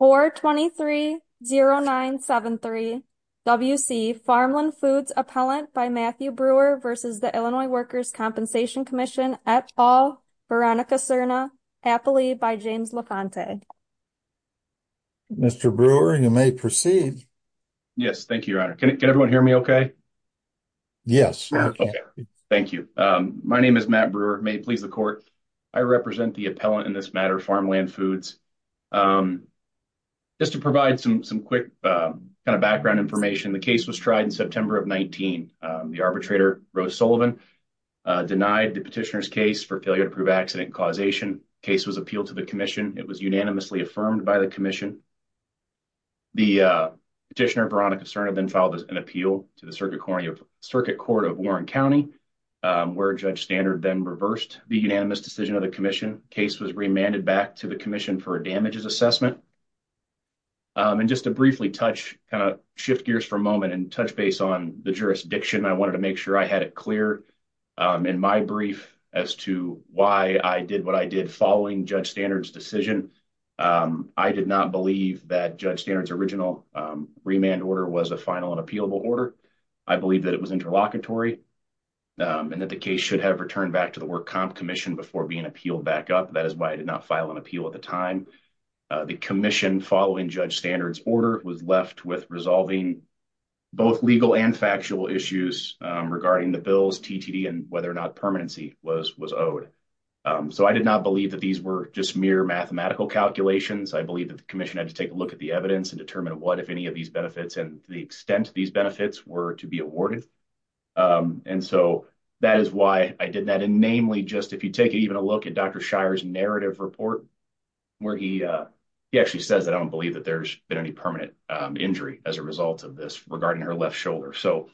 423-0973 W.C. Farmland Foods Appellant by Matthew Brewer v. Illinois Workers' Compensation Comm'n et al., Veronica Cerna, Happily, by James LaFontaine Mr. Brewer, you may proceed. Yes, thank you, Your Honor. Can everyone hear me okay? Yes. Okay, thank you. My name is Matt Brewer. May it please the Court, I represent the appellant in this matter, Farmland Foods. Just to provide some quick kind of background information, the case was tried in September of 19. The arbitrator, Rose Sullivan, denied the petitioner's case for failure to prove accident causation. The case was appealed to the Commission. It was unanimously affirmed by the Commission. The petitioner, Veronica Cerna, then filed an appeal to the Circuit Court of Warren County, where Judge Standard then reversed the unanimous decision of the Commission. The case was remanded back to the Commission for a damages assessment. And just to briefly touch, kind of shift gears for a moment and touch base on the jurisdiction, I wanted to make sure I had it clear in my brief as to why I did what I did following Judge Standard's decision. I did not believe that Judge Standard's original remand order was a final and appealable order. I believe that it was interlocutory and that the case should have returned back to the Work Comp Commission before being appealed back up. That is why I did not file an appeal at the time. The Commission, following Judge Standard's order, was left with resolving both legal and factual issues regarding the bills, TTD, and whether or not permanency was owed. So I did not believe that these were just mere mathematical calculations. I believe that the Commission had to take a look at the evidence and determine what, if any, of these benefits and the extent of these benefits were to be awarded. And so that is why I did that. And namely, just if you take even a look at Dr. Shire's narrative report, where he actually says that I don't believe that there's been any permanent injury as a result of this regarding her left shoulder. So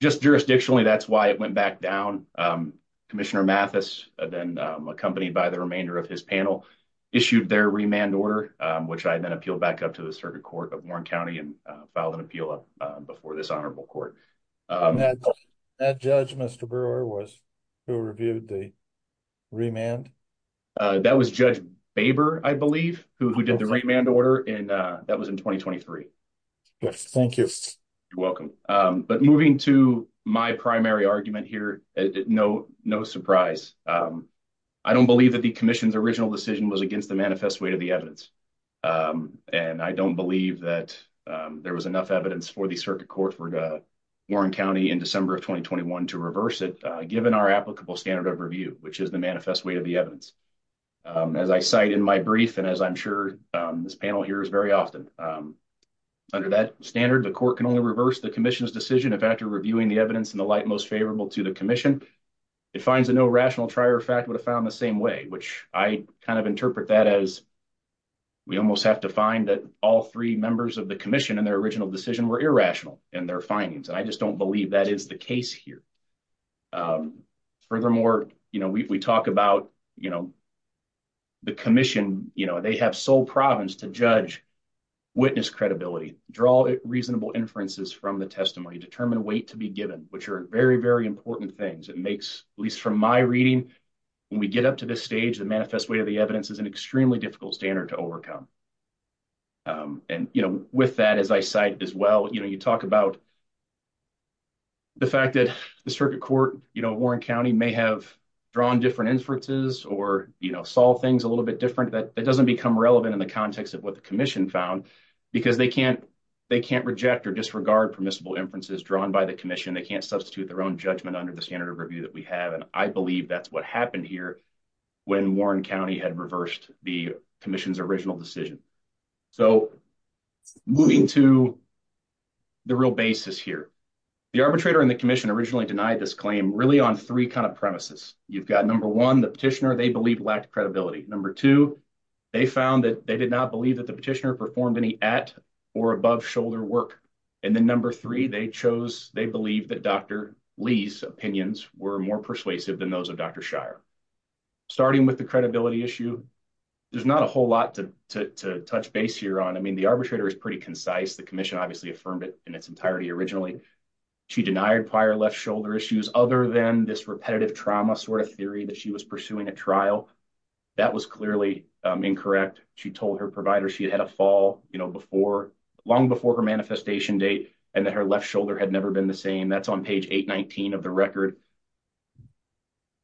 just jurisdictionally, that's why it went back down. Commissioner Mathis, then accompanied by the remainder of his panel, issued their remand order, which I then appealed back up to the Circuit Court of Warren County and filed an appeal before this Honorable Court. And that judge, Mr. Brewer, was who reviewed the remand? That was Judge Baber, I believe, who did the remand order, and that was in 2023. Yes, thank you. You're welcome. But moving to my primary argument here, no surprise. I don't believe that the commission's original decision was against the manifest weight of the evidence. And I don't believe that there was enough evidence for the Circuit Court for Warren County in December of 2021 to reverse it, given our applicable standard of review, which is the manifest weight of the evidence. As I cite in my brief, and as I'm sure this panel hears very often, under that standard, the court can only reverse the commission's decision if, after reviewing the evidence in the light most favorable to the commission, it finds that no rational trier of fact would have found the same way, which I kind of interpret that as, we almost have to find that all three members of the commission in their original decision were irrational in their findings. And I just don't believe that is the case here. Furthermore, you know, we talk about, you know, the commission, you know, they have sole province to judge witness credibility, draw reasonable inferences from the testimony, determine weight to be given, which are very, very important things. It makes, at least from my reading, when we get up to this stage, the manifest weight of the evidence is an extremely difficult standard to overcome. And, you know, with that, as I cite as well, you know, you talk about the fact that the Circuit Court, you know, Warren County may have drawn different inferences or, you know, solve things a little bit different. That doesn't become relevant in the context of what the commission found, because they can't reject or disregard permissible inferences drawn by the commission. They can't substitute their own judgment under the standard of review that we have. And I believe that's what happened here when Warren County had reversed the commission's original decision. So moving to the real basis here, the arbitrator and the commission originally denied this claim really on three kind of premises. You've got number one, the petitioner they believe lacked credibility. Number two, they found that they did not believe that the petitioner performed any at or above shoulder work. And then number three, they chose they believe that Dr. Lee's opinions were more persuasive than those of Dr. Shire. Starting with the credibility issue, there's not a whole lot to touch base here on. I mean, the arbitrator is pretty concise. The commission obviously affirmed it in its entirety. Originally, she denied prior left shoulder issues other than this repetitive trauma sort of theory that she was pursuing a trial. That was clearly incorrect. She told her provider she had had a fall before long before her manifestation date and that her left shoulder had never been the same. That's on page 819 of the record.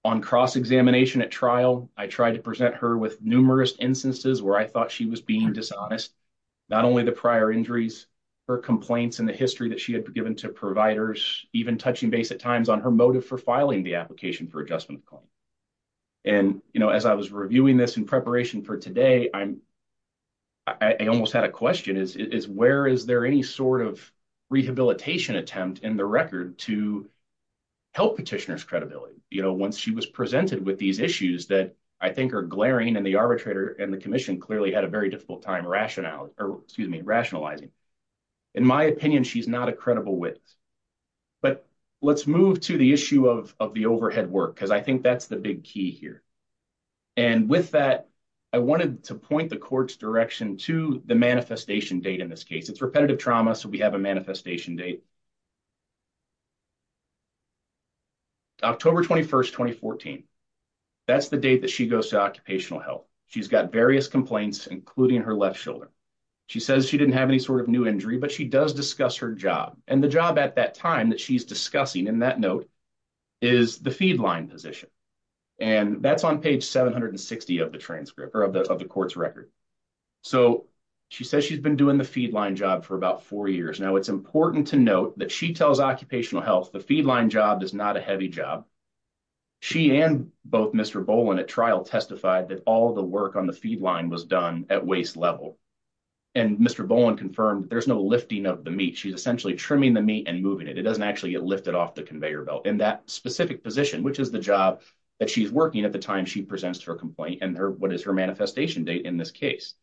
On cross-examination at trial, I tried to present her with numerous instances where I thought she was being dishonest, not only the prior injuries, her complaints and the history that she had given to providers, even touching base at times on her motive for filing the application for adjustment. And, you know, as I was reviewing this in preparation for today, I'm. I almost had a question is, is where is there any sort of rehabilitation attempt in the record to help petitioners credibility? You know, once she was presented with these issues that I think are glaring and the arbitrator and the commission clearly had a very difficult time rationale or excuse me, rationalizing. In my opinion, she's not a credible witness. But let's move to the issue of of the overhead work, because I think that's the big key here. And with that, I wanted to point the court's direction to the manifestation date. In this case, it's repetitive trauma. So we have a manifestation date. October 21st, 2014. That's the date that she goes to occupational health. She's got various complaints, including her left shoulder. She says she didn't have any sort of new injury, but she does discuss her job and the job at that time that she's discussing in that note is the feed line position. And that's on page 760 of the transcript of the court's record. So she says she's been doing the feed line job for about four years now. It's important to note that she tells occupational health. The feed line job is not a heavy job. She and both Mr. Boland at trial testified that all the work on the feed line was done at waist level. And Mr. Boland confirmed there's no lifting of the meat. She's essentially trimming the meat and moving it. It doesn't actually get lifted off the conveyor belt in that specific position, which is the job that she's working at the time. She presents her complaint and what is her manifestation date in this case.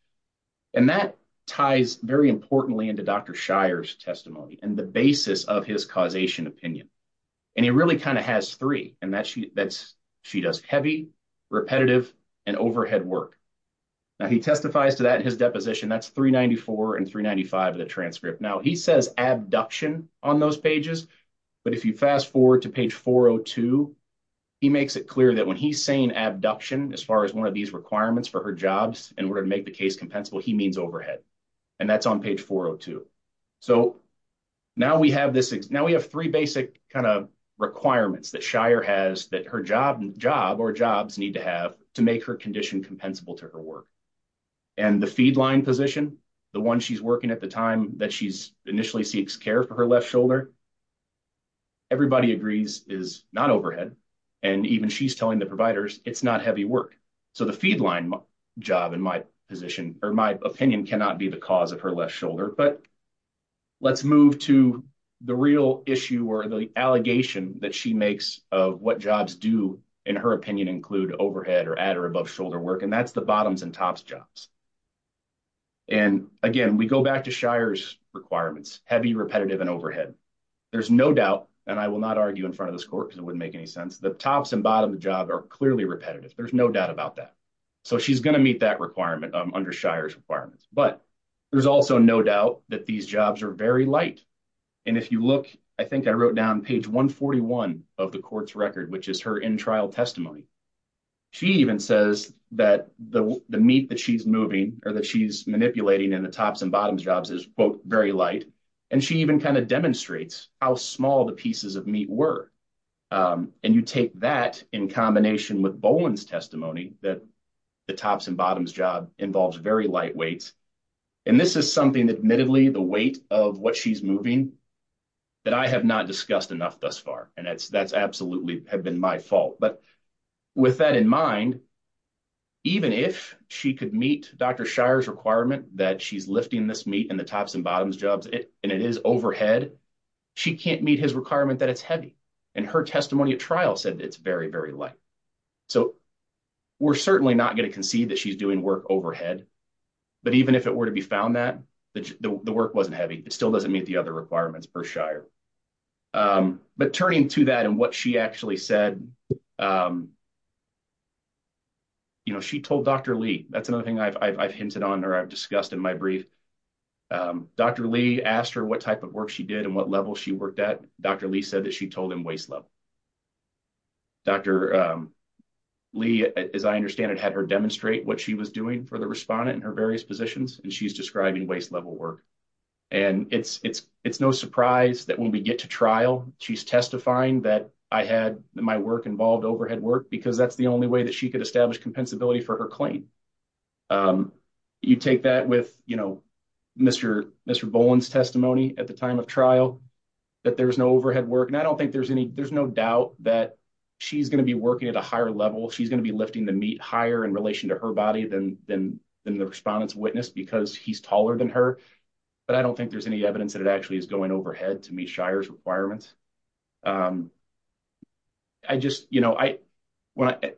And that ties very importantly into Dr. Shire's testimony and the basis of his causation opinion. And he really kind of has three and that she does heavy, repetitive, and overhead work. Now, he testifies to that in his deposition. That's 394 and 395 of the transcript. Now, he says abduction on those pages. But if you fast forward to page 402, he makes it clear that when he's saying abduction, as far as one of these requirements for her jobs, in order to make the case compensable, he means overhead. And that's on page 402. So now we have this. Now we have three basic kind of requirements that Shire has that her job or jobs need to have to make her condition compensable to her work. And the feedline position, the one she's working at the time that she initially seeks care for her left shoulder, everybody agrees is not overhead. And even she's telling the providers it's not heavy work. So the feedline job, in my opinion, cannot be the cause of her left shoulder. But let's move to the real issue or the allegation that she makes of what jobs do, in her opinion, include overhead or add or above shoulder work. And that's the bottoms and tops jobs. And again, we go back to Shire's requirements, heavy, repetitive, and overhead. There's no doubt, and I will not argue in front of this court because it wouldn't make any sense. The tops and bottom job are clearly repetitive. There's no doubt about that. So she's going to meet that requirement under Shire's requirements. But there's also no doubt that these jobs are very light. And if you look, I think I wrote down page 141 of the court's record, which is her in-trial testimony. She even says that the meat that she's moving or that she's manipulating in the tops and bottoms jobs is, quote, very light. And she even kind of demonstrates how small the pieces of meat were. And you take that in combination with Boland's testimony that the tops and bottoms job involves very light weights. And this is something that admittedly the weight of what she's moving that I have not discussed enough thus far. And that's absolutely have been my fault. But with that in mind, even if she could meet Dr. Shire's requirement that she's lifting this meat in the tops and bottoms jobs and it is overhead, she can't meet his requirement that it's heavy. And her testimony at trial said it's very, very light. So we're certainly not going to concede that she's doing work overhead. But even if it were to be found that the work wasn't heavy, it still doesn't meet the other requirements per Shire. But turning to that and what she actually said, you know, she told Dr. Lee, that's another thing I've hinted on or I've discussed in my brief. Dr. Lee asked her what type of work she did and what level she worked at. Dr. Lee said that she told him waist level. Dr. Lee, as I understand it, had her demonstrate what she was doing for the respondent in her various positions, and she's describing waist level work. And it's no surprise that when we get to trial, she's testifying that I had my work involved overhead work because that's the only way that she could establish compensability for her claim. You take that with, you know, Mr. Bowen's testimony at the time of trial, that there's no overhead work. And I don't think there's any there's no doubt that she's going to be working at a higher level. She's going to be lifting the meat higher in relation to her body than the respondent's witness because he's taller than her. But I don't think there's any evidence that it actually is going overhead to meet Shire's requirements. I just, you know,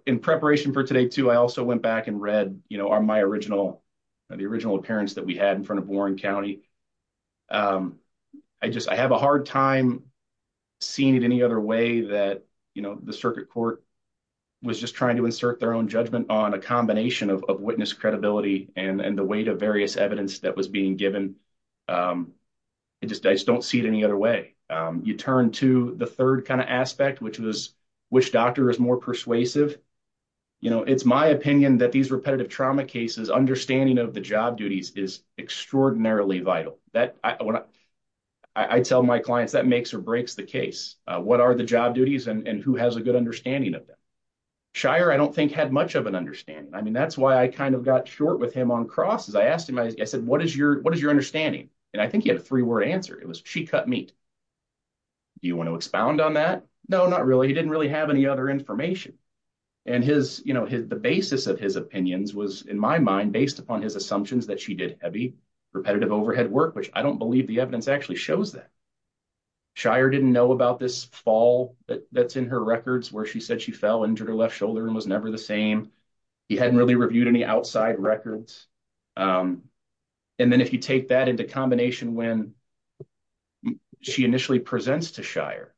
in preparation for today, too, I also went back and read, you know, on my original, the original appearance that we had in front of Warren County. I just I have a hard time seeing it any other way that, you know, the circuit court was just trying to insert their own judgment on a combination of witness credibility and the weight of various evidence that was being given. It just I just don't see it any other way. You turn to the third kind of aspect, which was which doctor is more persuasive. You know, it's my opinion that these repetitive trauma cases understanding of the job duties is extraordinarily vital that I tell my clients that makes or breaks the case. What are the job duties and who has a good understanding of them? Shire, I don't think had much of an understanding. I mean, that's why I kind of got short with him on crosses. I asked him, I said, what is your what is your understanding? And I think he had a three word answer. It was she cut meat. Do you want to expound on that? No, not really. He didn't really have any other information. And his, you know, the basis of his opinions was, in my mind, based upon his assumptions that she did heavy repetitive overhead work, which I don't believe the evidence actually shows that. Shire didn't know about this fall that's in her records where she said she fell injured her left shoulder and was never the same. He hadn't really reviewed any outside records. And then if you take that into combination, when she initially presents to Shire,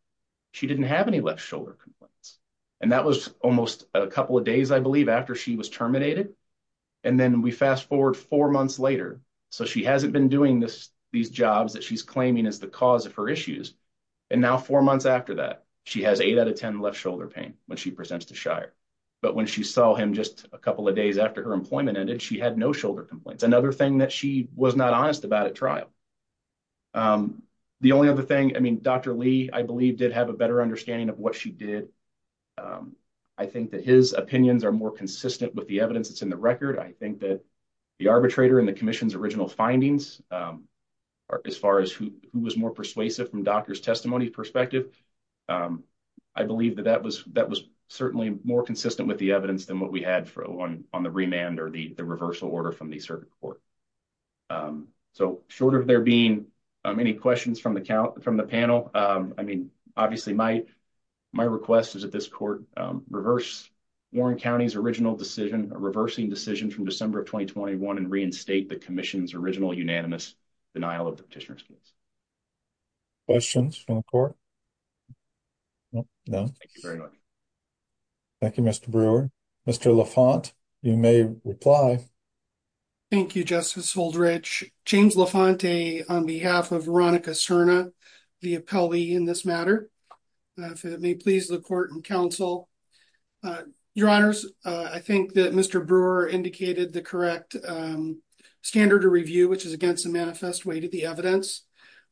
she didn't have any left shoulder complaints. And that was almost a couple of days, I believe, after she was terminated. And then we fast forward four months later. So she hasn't been doing this, these jobs that she's claiming is the cause of her issues. And now four months after that, she has eight out of 10 left shoulder pain when she presents to Shire. But when she saw him just a couple of days after her employment ended, she had no shoulder complaints. Another thing that she was not honest about at trial. The only other thing I mean, Dr. Lee, I believe, did have a better understanding of what she did. I think that his opinions are more consistent with the evidence that's in the record. I think that the arbitrator in the commission's original findings, as far as who was more persuasive from doctor's testimony perspective, I believe that that was certainly more consistent with the evidence than what we had on the remand or the reversal order from the circuit court. So short of there being any questions from the panel, I mean, obviously, my request is that this court reverse Warren County's original decision, a reversing decision from December of 2021 and reinstate the commission's original unanimous denial of the petitioner's case. Questions from the court? No. Thank you very much. Thank you, Mr. Brewer. Mr. LaFont, you may reply. Thank you, Justice Holdrich. James LaFont on behalf of Veronica Serna, the appellee in this matter. If it may please the court and counsel, your honors, I think that Mr. Brewer indicated the correct standard of review, which is against the manifest way to the evidence.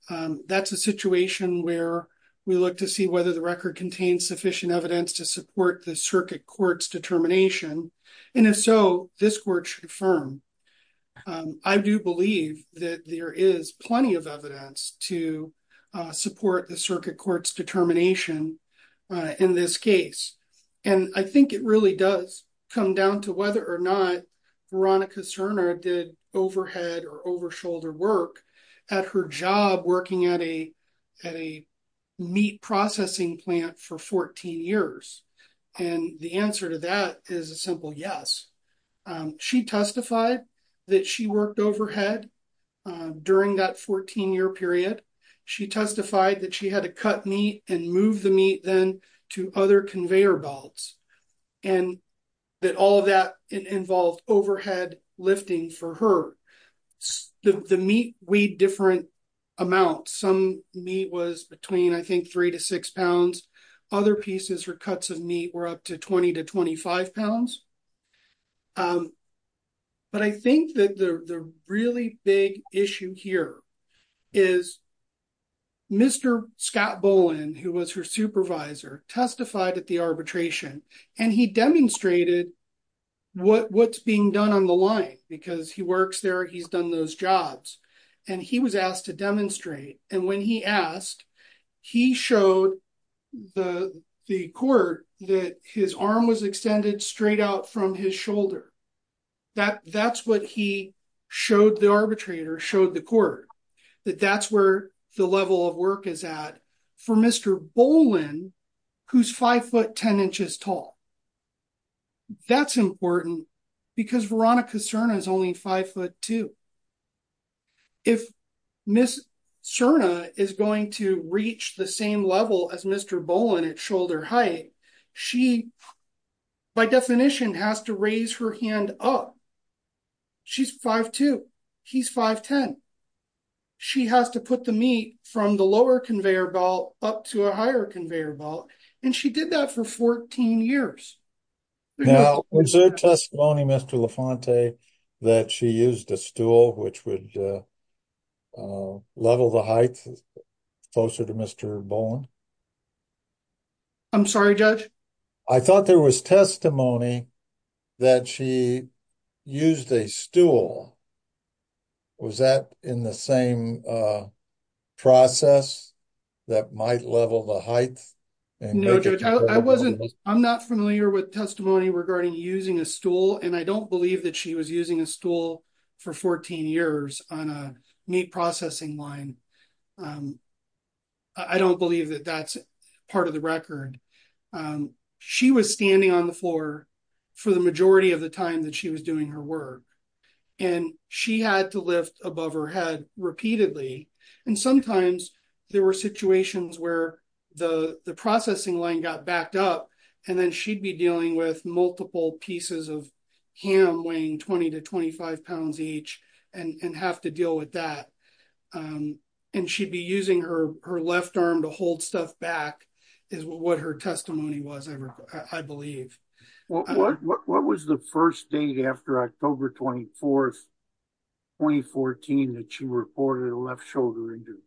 That's a situation where we look to see whether the record contains sufficient evidence to support the circuit court's determination. And if so, this court should affirm. I do believe that there is plenty of evidence to support the circuit court's determination in this case. And I think it really does come down to whether or not Veronica Serna did overhead or over shoulder work at her job working at a at a meat processing plant for 14 years. And the answer to that is a simple yes. She testified that she worked overhead during that 14 year period. She testified that she had to cut meat and move the meat then to other conveyor belts and that all of that involved overhead lifting for her. The meat weighed different amounts. Some meat was between, I think, three to six pounds. Other pieces or cuts of meat were up to 20 to 25 pounds. But I think that the really big issue here is Mr. Scott Bolin, who was her supervisor, testified at the arbitration and he demonstrated what's being done on the line because he works there, he's done those jobs, and he was asked to demonstrate. And when he asked, he showed the court that his arm was extended straight out from his shoulder. That's what he showed the arbitrator, showed the court, that that's where the level of work is at. But for Mr. Bolin, who's five foot ten inches tall. That's important because Veronica Serna is only five foot two. If Ms. Serna is going to reach the same level as Mr. Bolin at shoulder height, she, by definition, has to raise her hand up. She's five foot two. He's five foot ten. She has to put the meat from the lower conveyor belt up to a higher conveyor belt. And she did that for 14 years. Now, was there testimony, Mr. LaFonte, that she used a stool which would level the height closer to Mr. Bolin? I'm sorry, Judge? I thought there was testimony that she used a stool. Was that in the same process that might level the height? No, Judge, I'm not familiar with testimony regarding using a stool, and I don't believe that she was using a stool for 14 years on a meat processing line. I don't believe that that's part of the record. She was standing on the floor for the majority of the time that she was doing her work, and she had to lift above her head repeatedly. And sometimes there were situations where the processing line got backed up, and then she'd be dealing with multiple pieces of ham weighing 20 to 25 pounds each and have to deal with that. And she'd be using her left arm to hold stuff back is what her testimony was, I believe. What was the first date after October 24, 2014, that she reported a left shoulder injury?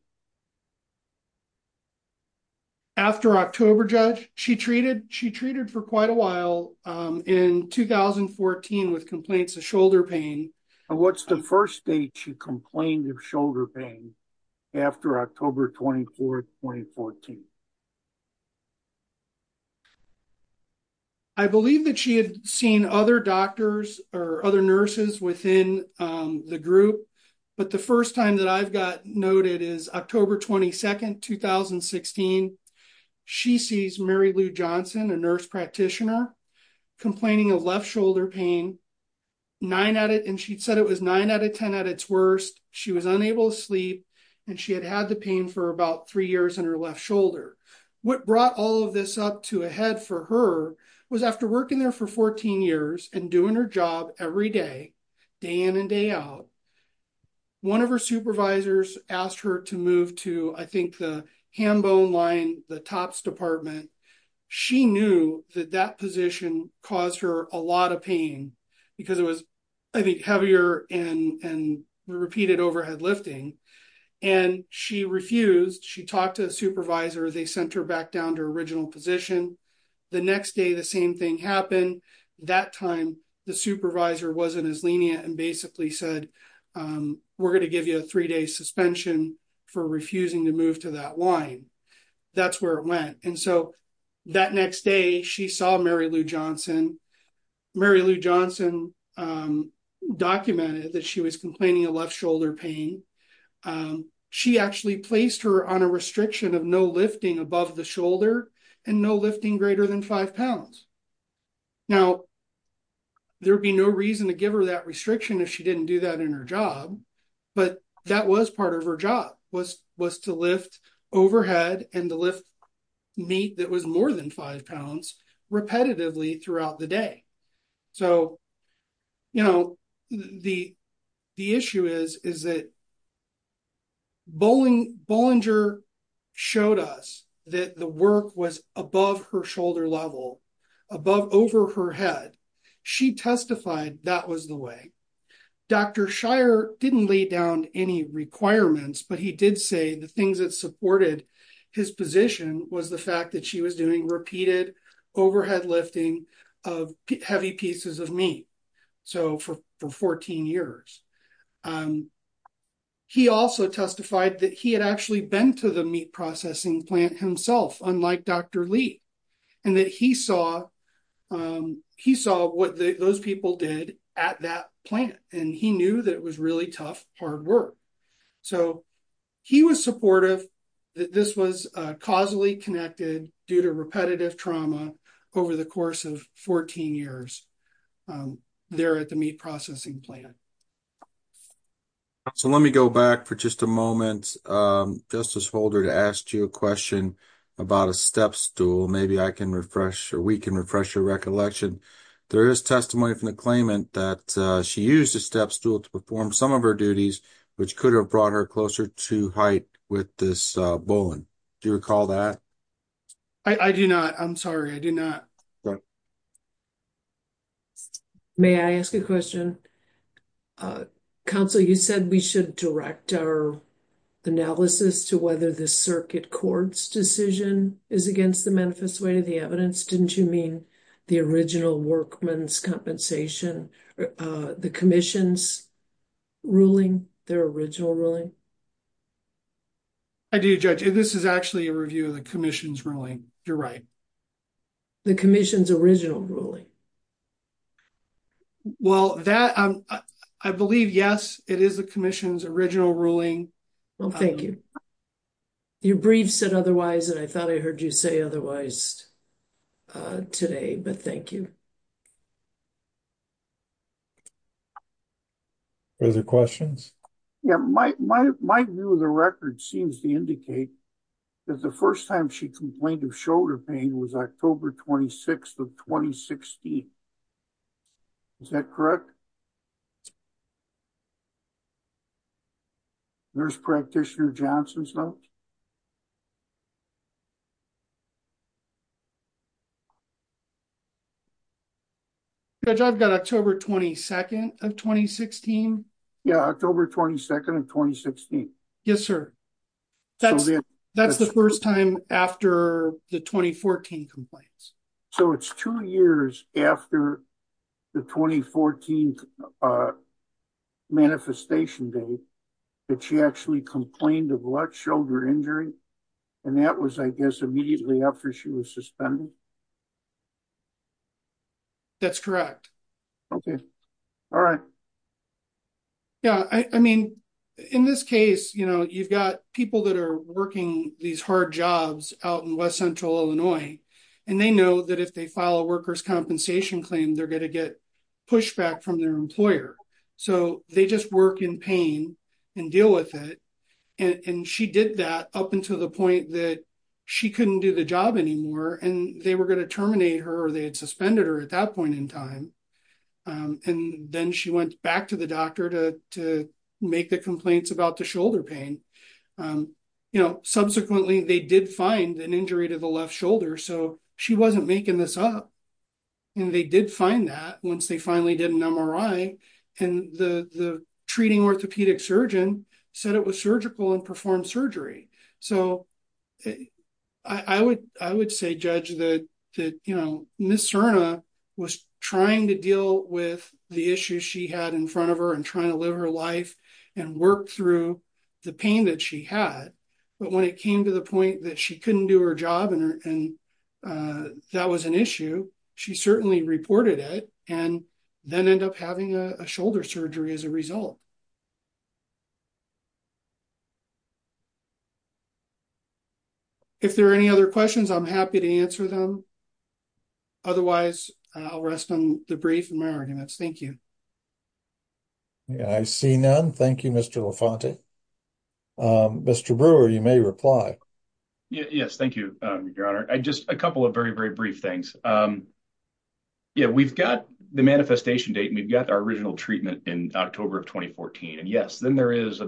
After October, Judge, she treated for quite a while in 2014 with complaints of shoulder pain. And what's the first date she complained of shoulder pain after October 24, 2014? I believe that she had seen other doctors or other nurses within the group, but the first time that I've got noted is October 22, 2016. She sees Mary Lou Johnson, a nurse practitioner, complaining of left shoulder pain. And she'd said it was nine out of 10 at its worst. She was unable to sleep, and she had had the pain for about three years in her left shoulder. What brought all of this up to a head for her was after working there for 14 years and doing her job every day, day in and day out, one of her supervisors asked her to move to, I think, the hand bone line, the TOPS department. She knew that that position caused her a lot of pain because it was, I think, heavier and repeated overhead lifting. And she refused. She talked to the supervisor. They sent her back down to her original position. The next day, the same thing happened. That time, the supervisor wasn't as lenient and basically said, we're going to give you a three-day suspension for refusing to move to that line. That's where it went. And so that next day, she saw Mary Lou Johnson. Mary Lou Johnson documented that she was complaining of left shoulder pain. She actually placed her on a restriction of no lifting above the shoulder and no lifting greater than five pounds. Now, there would be no reason to give her that restriction if she didn't do that in her job. But that was part of her job, was to lift overhead and to lift meat that was more than five pounds repetitively throughout the day. So, you know, the issue is that Bollinger showed us that the work was above her shoulder level, above over her head. She testified that was the way. Dr. Shire didn't lay down any requirements, but he did say the things that supported his position was the fact that she was doing repeated overhead lifting of heavy pieces of meat. So for 14 years. He also testified that he had actually been to the meat processing plant himself, unlike Dr. Lee, and that he saw what those people did at that plant. And he knew that it was really tough, hard work. So he was supportive that this was causally connected due to repetitive trauma over the course of 14 years there at the meat processing plant. So let me go back for just a moment, Justice Holder, to ask you a question about a step stool. Maybe I can refresh or we can refresh your recollection. There is testimony from the claimant that she used a step stool to perform some of her duties, which could have brought her closer to height with this bullion. Do you recall that? I do not. I'm sorry. I do not. May I ask a question? Counsel, you said we should direct our analysis to whether the circuit court's decision is against the manifest way to the evidence. Didn't you mean the original workman's compensation, the commission's ruling, their original ruling? I do, Judge. This is actually a review of the commission's ruling. You're right. The commission's original ruling. Well, I believe, yes, it is the commission's original ruling. Well, thank you. Your brief said otherwise, and I thought I heard you say otherwise today, but thank you. Further questions? Yeah, my view of the record seems to indicate that the first time she complained of shoulder pain was October 26th of 2016. Is that correct? Nurse Practitioner Johnson's note? Judge, I've got October 22nd of 2016. Yeah, October 22nd of 2016. Yes, sir. That's the first time after the 2014 complaints. So it's two years after the 2014 manifestation day that she actually complained of a lot of shoulder injury, and that was, I guess, immediately after she was suspended? That's correct. Okay. All right. Yeah, I mean, in this case, you know, you've got people that are working these hard jobs out in West Central Illinois, and they know that if they file a workers' compensation claim, they're going to get pushback from their employer. So they just work in pain and deal with it, and she did that up until the point that she couldn't do the job anymore, and they were going to terminate her or they had suspended her at that point in time. And then she went back to the doctor to make the complaints about the shoulder pain. You know, subsequently, they did find an injury to the left shoulder, so she wasn't making this up. And they did find that once they finally did an MRI, and the treating orthopedic surgeon said it was surgical and performed surgery. So I would say, Judge, that, you know, Ms. Serna was trying to deal with the issues she had in front of her and trying to live her life and work through the pain that she had. But when it came to the point that she couldn't do her job and that was an issue, she certainly reported it and then ended up having a shoulder surgery as a result. If there are any other questions, I'm happy to answer them. Otherwise, I'll rest on the brief and my arguments. Thank you. Yeah, I see none. Thank you, Mr. LaFonte. Mr. Brewer, you may reply. Yes, thank you, Your Honor. Just a couple of very, very brief things. Yeah, we've got the manifestation date and we've got our original treatment in October of 2014. And yes, then there's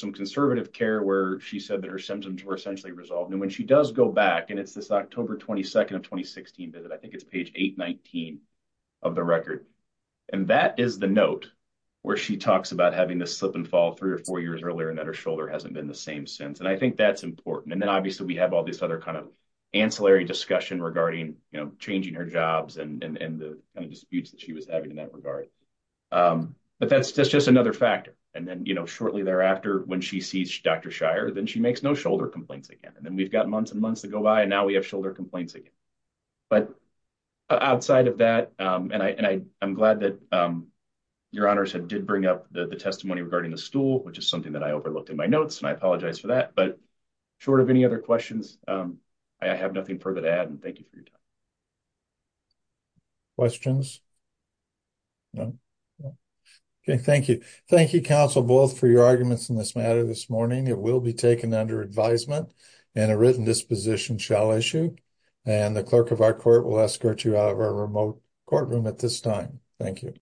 some conservative care where she said that her symptoms were essentially resolved. And when she does go back, and it's this October 22nd of 2016 visit, I think it's page 819 of the record. And that is the note where she talks about having this slip and fall three or four years earlier and that her shoulder hasn't been the same since. And I think that's important. And then obviously we have all this other kind of ancillary discussion regarding changing her jobs and the kind of disputes that she was having in that regard. But that's just another factor. And then shortly thereafter, when she sees Dr. Shire, then she makes no shoulder complaints again. And then we've got months and months to go by and now we have shoulder complaints again. But outside of that, and I'm glad that Your Honor did bring up the testimony regarding the stool, which is something that I overlooked in my notes, and I apologize for that. But short of any other questions, I have nothing further to add, and thank you for your time. Questions? No? Okay, thank you. Thank you, counsel, both for your arguments in this matter this morning. It will be taken under advisement and a written disposition shall issue. And the clerk of our court will escort you out of our remote courtroom at this time. Thank you.